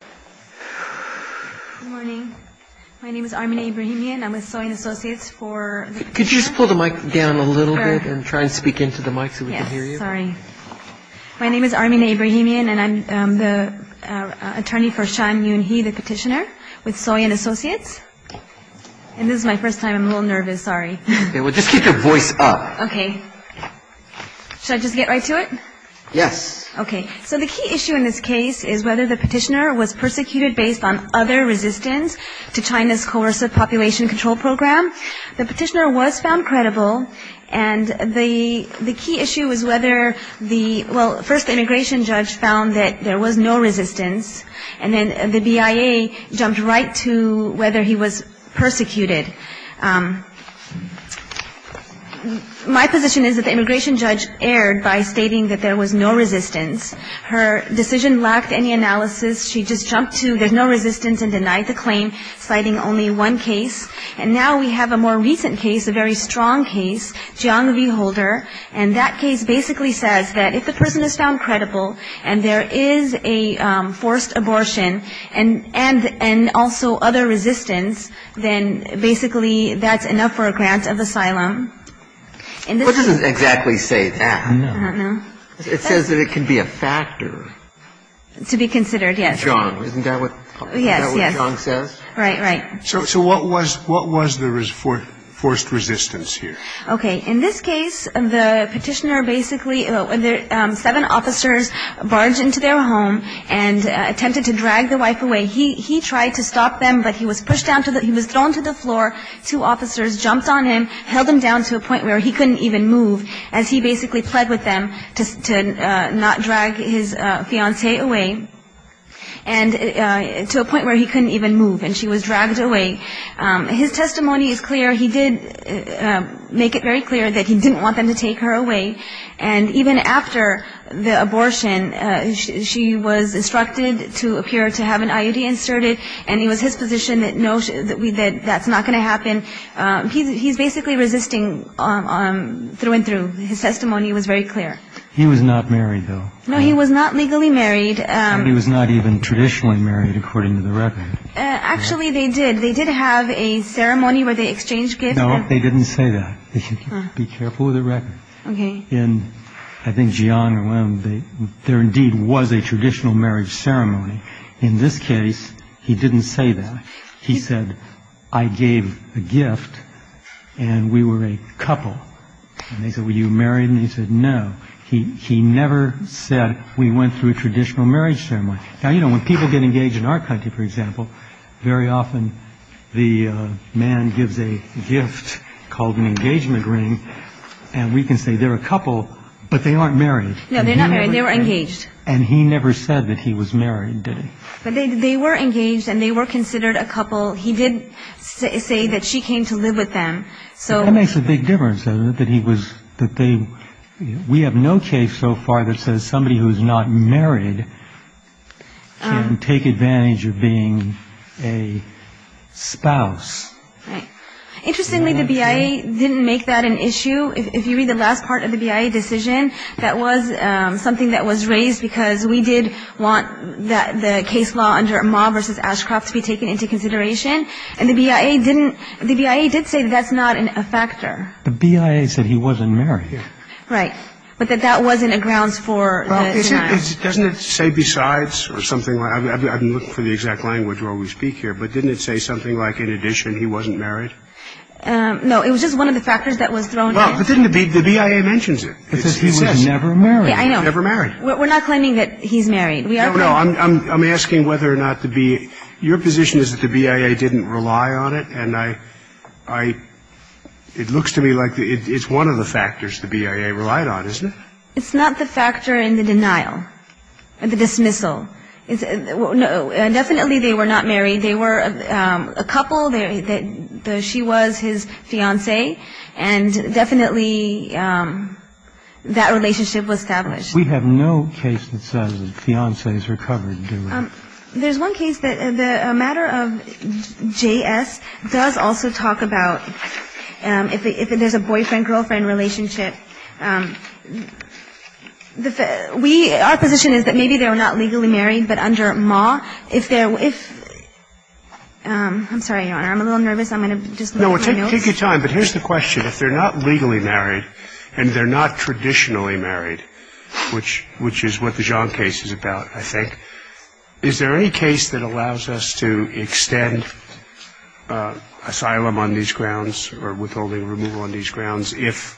Good morning. My name is Armina Ibrahimian. I'm with Soy & Associates for the Petitioner. Could you just pull the mic down a little bit and try and speak into the mic so we can hear you? Yes, sorry. My name is Armina Ibrahimian and I'm the attorney for Sean Yoon Hee, the Petitioner with Soy & Associates. And this is my first time. I'm a little nervous. Sorry. Okay. Well, just keep your voice up. Okay. Should I just get right to it? Yes. Okay. So the key issue in this case is whether the Petitioner was persecuted based on other resistance to China's coercive population control program. The Petitioner was found credible and the key issue is whether the – well, first the immigration judge found that there was no resistance and then the BIA jumped right to whether he was persecuted. My position is that the immigration judge erred by stating that there was no resistance. Her decision lacked any analysis. She just jumped to there's no resistance and denied the claim, citing only one case. And now we have a more recent case, a very strong case, Jiang v. Holder, and that case basically says that if the person is found credible and there is a forced abortion and also other resistance, then basically that's enough for a grant of asylum. What does it exactly say, that? I don't know. It says that it can be a factor. To be considered, yes. Jiang. Isn't that what Jiang says? Yes, yes. Right, right. So what was the forced resistance here? Okay. In this case, the Petitioner basically – seven officers barged into their home and attempted to drag the wife away. He tried to stop them, but he was pushed down to the – he was thrown to the floor. Two officers jumped on him, held him down to a point where he couldn't even move, as he basically pled with them to not drag his fiancée away, and to a point where he couldn't even move and she was dragged away. His testimony is clear. He did make it very clear that he didn't want them to take her away. And even after the abortion, she was instructed to appear to have an IUD inserted, and it was his position that no, that's not going to happen. He's basically resisting through and through. His testimony was very clear. He was not married, though. No, he was not legally married. And he was not even traditionally married, according to the record. Actually, they did. They did have a ceremony where they exchanged gifts. No, they didn't say that. Be careful of the record. Okay. And I think Jian and Wen, there indeed was a traditional marriage ceremony. In this case, he didn't say that. He said, I gave a gift, and we were a couple. And they said, were you married? And he said, no. He never said we went through a traditional marriage ceremony. Now, you know, when people get engaged in our country, for example, very often the man gives a gift called an engagement ring, and we can say they're a couple, but they aren't married. No, they're not married. They were engaged. And he never said that he was married, did he? They were engaged, and they were considered a couple. He did say that she came to live with them. That makes a big difference, doesn't it? We have no case so far that says somebody who's not married can take advantage of being a spouse. Interestingly, the BIA didn't make that an issue. If you read the last part of the BIA decision, that was something that was raised because we did want the case law under Amah v. Ashcroft to be taken into consideration. And the BIA didn't the BIA did say that's not a factor. The BIA said he wasn't married. Right. But that that wasn't a grounds for denial. Doesn't it say besides or something? I'm looking for the exact language where we speak here. But didn't it say something like, in addition, he wasn't married? No, it was just one of the factors that was thrown in. Well, but then the BIA mentions it. It says he was never married. Yeah, I know. Never married. We're not claiming that he's married. No, I'm asking whether or not the BIA your position is that the BIA didn't rely on it. And it looks to me like it's one of the factors the BIA relied on, isn't it? It's not the factor in the denial, the dismissal. No, definitely they were not married. They were a couple. She was his fiancée. And definitely that relationship was established. We have no case that says fiancées are covered, do we? There's one case that the matter of J.S. does also talk about if there's a boyfriend-girlfriend relationship. Our position is that maybe they were not legally married, but under MAW, if they're – I'm sorry, Your Honor, I'm a little nervous. I'm going to just look at my notes. No, take your time. But here's the question. If they're not legally married and they're not traditionally married, which is what the John case is about, I think, is there any case that allows us to extend asylum on these grounds or withholding removal on these grounds if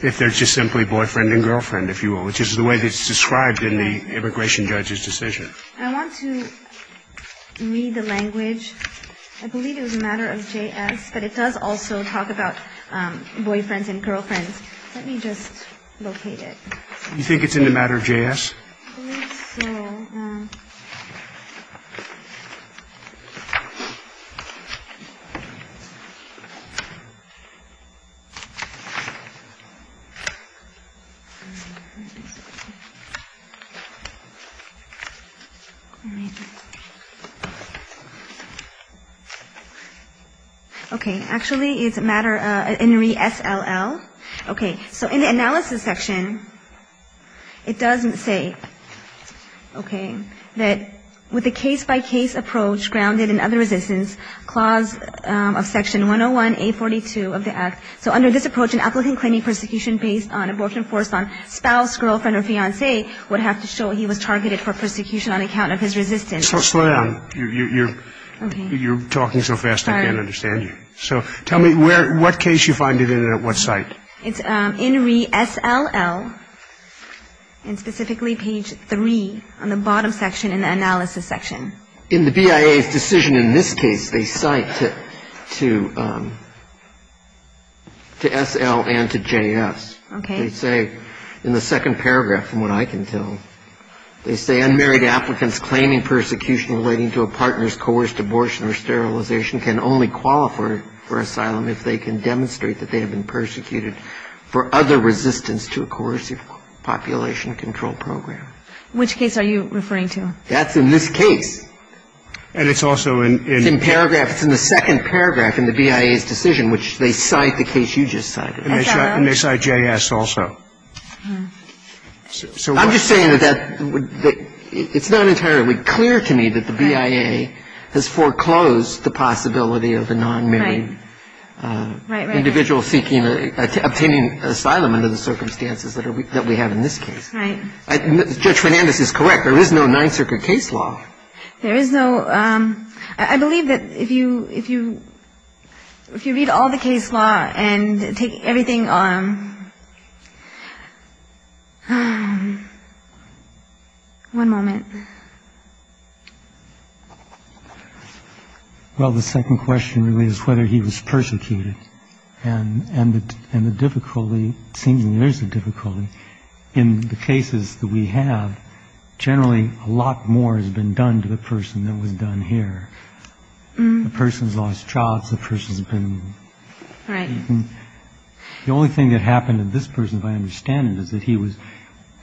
they're just simply boyfriend and girlfriend, if you will, which is the way that's described in the immigration judge's decision? I want to read the language. I believe it was a matter of J.S., but it does also talk about boyfriends and girlfriends. Let me just locate it. You think it's in the matter of J.S.? I believe so. Okay. Actually, it's a matter in resll. Okay. So in the analysis section, it doesn't say, okay, that with the case-by-case approach grounded in other resistance, clause of section 101A42 of the Act. So under this approach, an applicant claiming persecution based on abortion forced on spouse, girlfriend, or fiancé would have to show he was targeted for persecution on account of his resistance. Slow down. You're talking so fast, I can't understand you. Sorry. So tell me what case you find it in and at what site. It's in resll, and specifically page 3 on the bottom section in the analysis section. In the BIA's decision in this case, they cite to SL and to J.S. Okay. They say in the second paragraph, from what I can tell, they say unmarried applicants claiming persecution relating to a partner's coerced abortion or sterilization can only qualify for asylum if they can demonstrate that they have been persecuted for other resistance to a coercive population control program. Which case are you referring to? That's in this case. And it's also in the second paragraph in the BIA's decision, which they cite the case you just cited. And they cite J.S. also. I'm just saying that it's not entirely clear to me that the BIA has foreclosed the possibility of a nonmarried individual seeking or obtaining asylum under the circumstances that we have in this case. Right. Judge Fernandez is correct. There is no Ninth Circuit case law. There is no ‑‑ I believe that if you read all the case law and take everything on ‑‑ one moment. Well, the second question really is whether he was persecuted. And the difficulty, it seems there is a difficulty. In the cases that we have, generally a lot more has been done to the person than was done here. The person's lost jobs. The person's been ‑‑ the only thing that happened to this person, if I understand it, is that he was,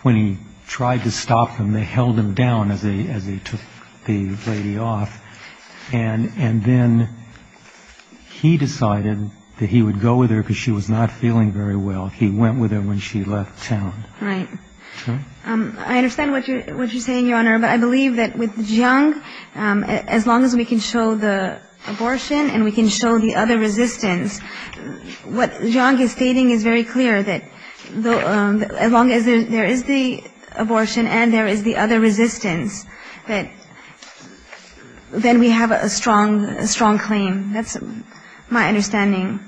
when he tried to stop them, they held him down as they took the lady off. And then he decided that he would go with her because she was not feeling very well. He went with her when she left town. Right. I understand what you're saying, Your Honor. But I believe that with Jiang, as long as we can show the abortion and we can show the other resistance, what Jiang is stating is very clear, that as long as there is the abortion and there is the other resistance, that then we have a strong claim. That's my understanding.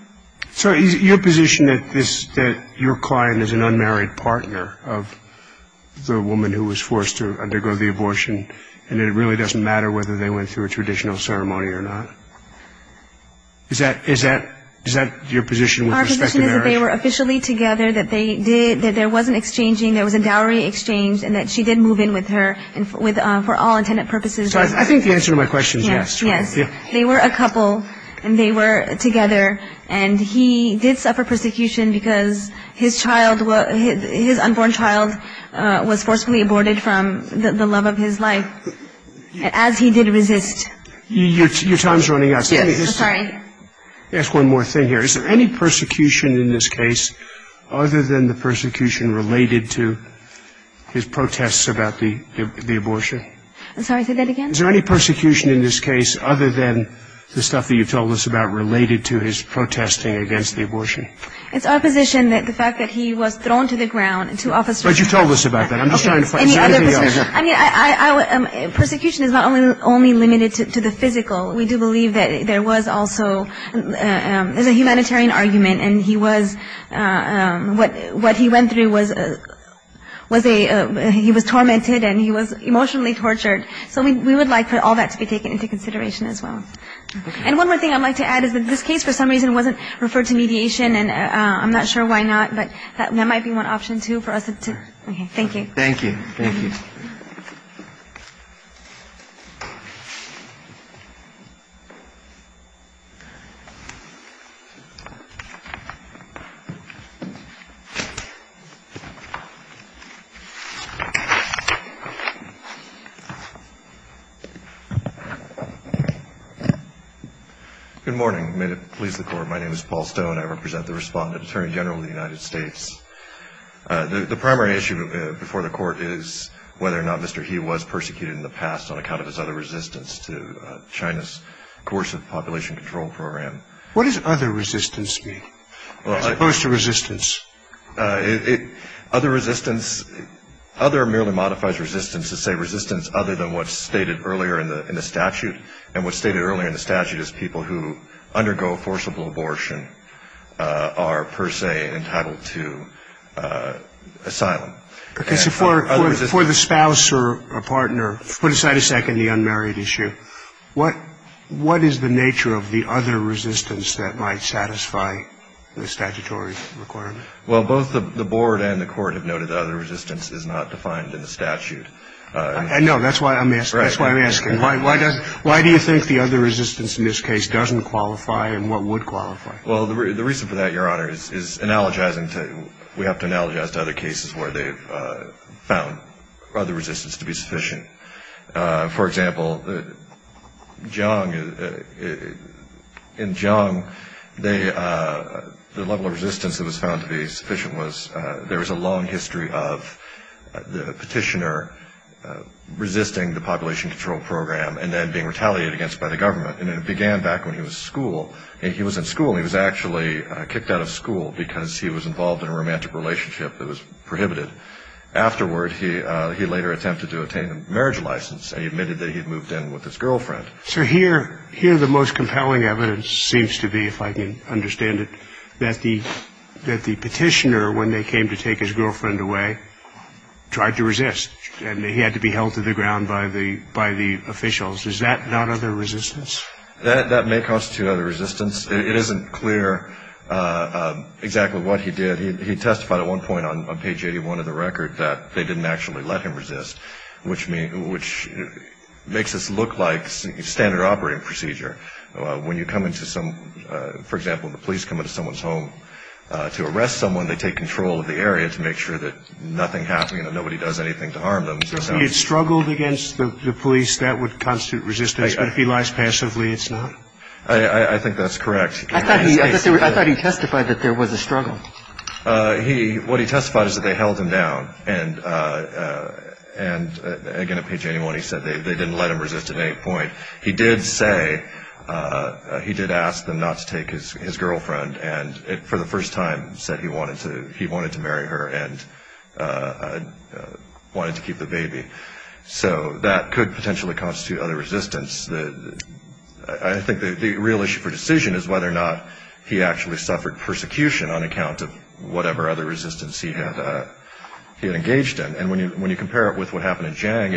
So is it your position that your client is an unmarried partner of the woman who was forced to undergo the abortion and it really doesn't matter whether they went through a traditional ceremony or not? Is that your position with respect to marriage? Our position is that they were officially together, that they did, that there wasn't exchanging, there was a dowry exchange and that she did move in with her for all intended purposes. So I think the answer to my question is yes. Yes. They were a couple and they were together and he did suffer persecution because his unborn child was forcefully aborted from the love of his life as he did resist. Your time is running out. Yes. I'm sorry. Let me ask one more thing here. Is there any persecution in this case other than the persecution related to his protests about the abortion? I'm sorry, say that again. Is there any persecution in this case other than the stuff that you told us about related to his protesting against the abortion? It's our position that the fact that he was thrown to the ground, to officers. But you told us about that. I'm just trying to find, is there anything else? I mean, persecution is not only limited to the physical. We do believe that there was also, there's a humanitarian argument and he was, what he went through was a, he was tormented and he was emotionally tortured. So we would like for all that to be taken into consideration as well. And one more thing I'd like to add is that this case for some reason wasn't referred to mediation and I'm not sure why not, but that might be one option too for us to. Thank you. Thank you. Thank you. Good morning. May it please the Court. My name is Paul Stone. I represent the Respondent Attorney General of the United States. The primary issue before the Court is whether or not Mr. He was persecuted in the past on account of his other resistance to China's coercive population control program. What does other resistance mean? As opposed to resistance. And what's stated earlier in the statute is people who undergo forcible abortion are per se entitled to asylum. For the spouse or a partner, put aside a second the unmarried issue. What is the nature of the other resistance that might satisfy the statutory requirement? Well, both the Board and the Court have noted the other resistance is not defined in the statute. I know. That's why I'm asking. That's why I'm asking. Why do you think the other resistance in this case doesn't qualify and what would qualify? Well, the reason for that, Your Honor, is analogizing. We have to analogize to other cases where they've found other resistance to be sufficient. For example, Jiang. In Jiang, the level of resistance that was found to be sufficient was there was a long history of the petitioner resisting the population control program and then being retaliated against by the government. And it began back when he was in school. He was actually kicked out of school because he was involved in a romantic relationship that was prohibited. Afterward, he later attempted to obtain a marriage license and he admitted that he had moved in with his girlfriend. So here the most compelling evidence seems to be, if I can understand it, that the petitioner, when they came to take his girlfriend away, tried to resist and he had to be held to the ground by the officials. Is that not other resistance? That may constitute other resistance. It isn't clear exactly what he did. He testified at one point on page 81 of the record that they didn't actually let him resist, which makes this look like standard operating procedure. When you come into some, for example, the police come into someone's home to arrest someone, they take control of the area to make sure that nothing happens and nobody does anything to harm them. He had struggled against the police. That would constitute resistance. But if he lies passively, it's not? I think that's correct. I thought he testified that there was a struggle. What he testified is that they held him down. And, again, on page 81 he said they didn't let him resist at any point. He did say he did ask them not to take his girlfriend and for the first time said he wanted to marry her and wanted to keep the baby. So that could potentially constitute other resistance. I think the real issue for decision is whether or not he actually suffered persecution on account of whatever other resistance he had engaged in. And when you compare it with what happened in Jiang,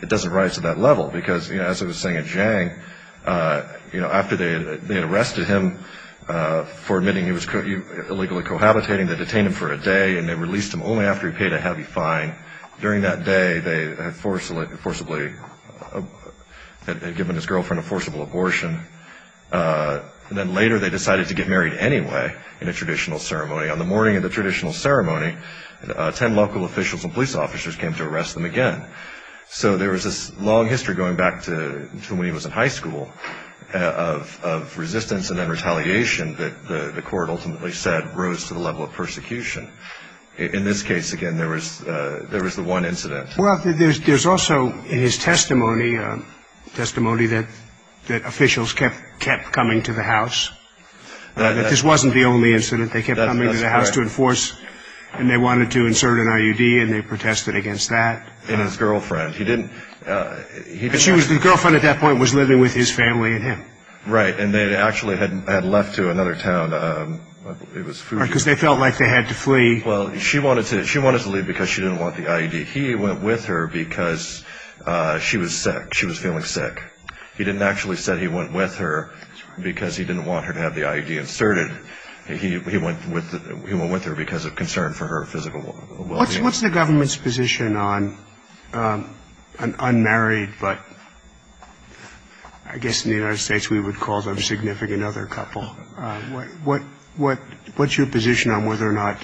it doesn't rise to that level. Because, as I was saying in Jiang, after they had arrested him for admitting he was illegally cohabitating, they detained him for a day and they released him only after he paid a heavy fine. During that day they had forcibly given his girlfriend a forcible abortion. And then later they decided to get married anyway in a traditional ceremony. On the morning of the traditional ceremony, 10 local officials and police officers came to arrest them again. So there was this long history going back to when he was in high school of resistance and then retaliation that the court ultimately said rose to the level of persecution. In this case, again, there was the one incident. Well, there's also in his testimony, testimony that officials kept coming to the house. This wasn't the only incident. They kept coming to the house to enforce and they wanted to insert an IUD and they protested against that. And his girlfriend, he didn't... His girlfriend at that point was living with his family and him. Right, and they actually had left to another town. Because they felt like they had to flee. Well, she wanted to leave because she didn't want the IUD. He went with her because she was sick. She was feeling sick. He didn't actually say he went with her because he didn't want her to have the IUD inserted. He went with her because of concern for her physical well-being. What's the government's position on an unmarried, but I guess in the United States we would call them significant other couple? What's your position on whether or not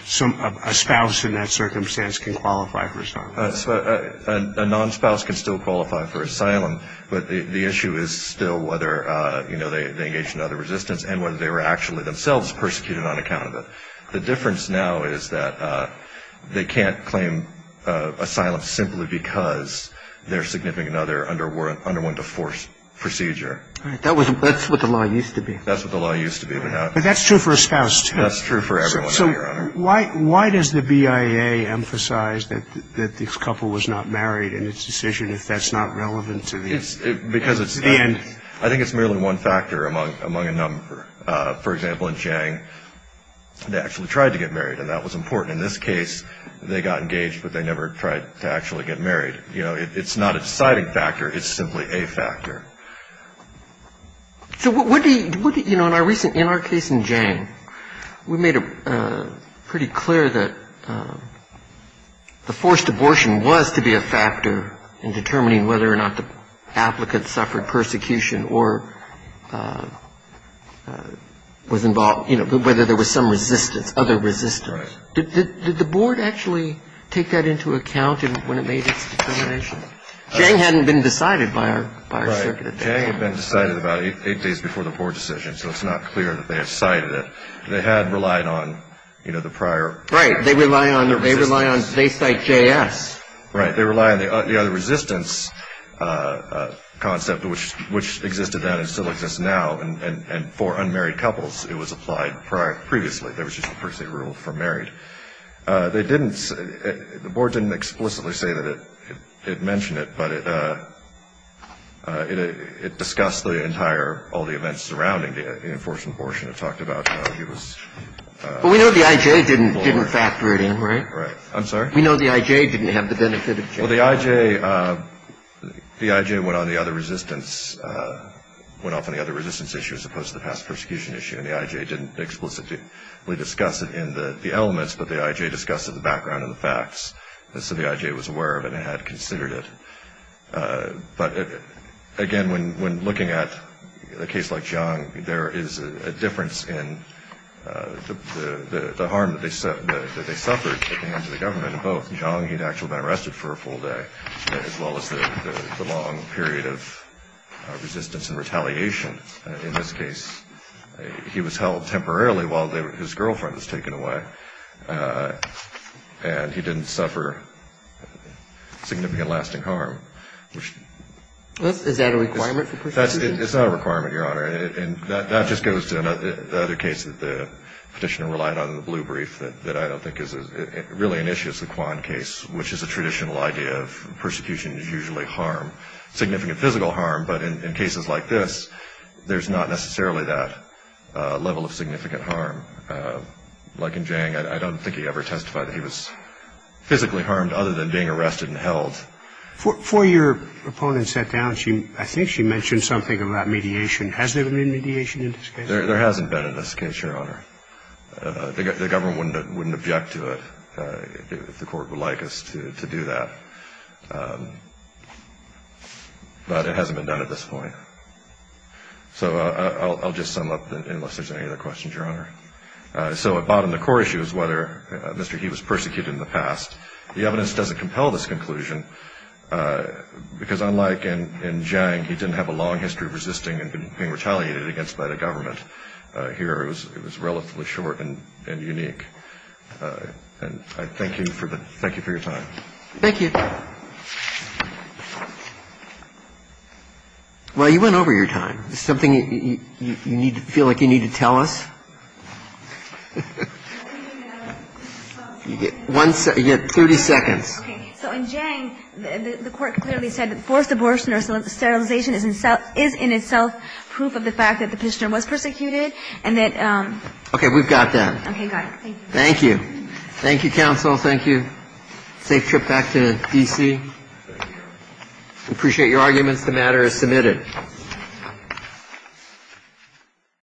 a spouse in that circumstance can qualify for asylum? A non-spouse can still qualify for asylum, but the issue is still whether they engaged in other resistance and whether they were actually themselves persecuted on account of it. The difference now is that they can't claim asylum simply because they're significant other under one deforced procedure. That's what the law used to be. That's what the law used to be. But that's true for a spouse, too. That's true for everyone, Your Honor. So why does the BIA emphasize that this couple was not married in its decision if that's not relevant to the end? I think it's merely one factor among a number. For example, in Chiang, they actually tried to get married, and that was important. In this case, they got engaged, but they never tried to actually get married. You know, it's not a deciding factor. It's simply a factor. So what do you know in our recent, in our case in Chiang, we made it pretty clear that the forced abortion was to be a factor in determining whether or not the applicant suffered persecution or was involved, you know, whether there was some resistance, other resistance. Right. Did the board actually take that into account when it made its determination? No. Chiang hadn't been decided by our circuit at that point. Right. Chiang had been decided about eight days before the board decision, so it's not clear that they have cited it. They had relied on, you know, the prior. Right. They rely on the other resistance. They cite JS. Right. They rely on the other resistance concept, which existed then and still exists now. And for unmarried couples, it was applied previously. There was just a per se rule for married. They didn't, the board didn't explicitly say that it mentioned it, but it discussed the entire, all the events surrounding the enforced abortion. It talked about how he was. But we know the IJ didn't factor it in, right? Right. I'm sorry? We know the IJ didn't have the benefit of. Well, the IJ, the IJ went on the other resistance, went off on the other resistance issue as opposed to the past persecution issue, and the IJ didn't explicitly discuss it in the elements, but the IJ discussed it in the background and the facts. So the IJ was aware of it and had considered it. But, again, when looking at a case like Chiang, there is a difference in the harm that they suffered at the hands of the government. Both Chiang, he'd actually been arrested for a full day, as well as the long period of resistance and retaliation. In this case, he was held temporarily while his girlfriend was taken away, and he didn't suffer significant lasting harm, which. Is that a requirement for persecution? It's not a requirement, Your Honor. And that just goes to the other case that the Petitioner relied on in the blue brief that I don't think is, really initiates the Kwan case, which is a traditional idea of persecution is usually harm, significant physical harm. But in cases like this, there's not necessarily that level of significant harm. Like in Chiang, I don't think he ever testified that he was physically harmed other than being arrested and held. Before your opponent sat down, I think she mentioned something about mediation. Has there been mediation in this case? There hasn't been in this case, Your Honor. The government wouldn't object to it if the court would like us to do that. But it hasn't been done at this point. So I'll just sum up, unless there's any other questions, Your Honor. So at bottom, the core issue is whether Mr. He was persecuted in the past. The evidence doesn't compel this conclusion, because unlike in Chiang, he didn't have a long history of resisting and being retaliated against by the government. Here, it was relatively short and unique. And I thank you for your time. Thank you. Well, you went over your time. Is there something you feel like you need to tell us? You get 30 seconds. Okay. So in Chiang, the Court clearly said that forced abortion or sterilization is in itself proof of the fact that the prisoner was persecuted, and that ---- Okay. We've got that. Got it. Thank you. Thank you. Thank you, counsel. Thank you. Safe trip back to D.C. Thank you. We appreciate your arguments. The matter is submitted. Thank you.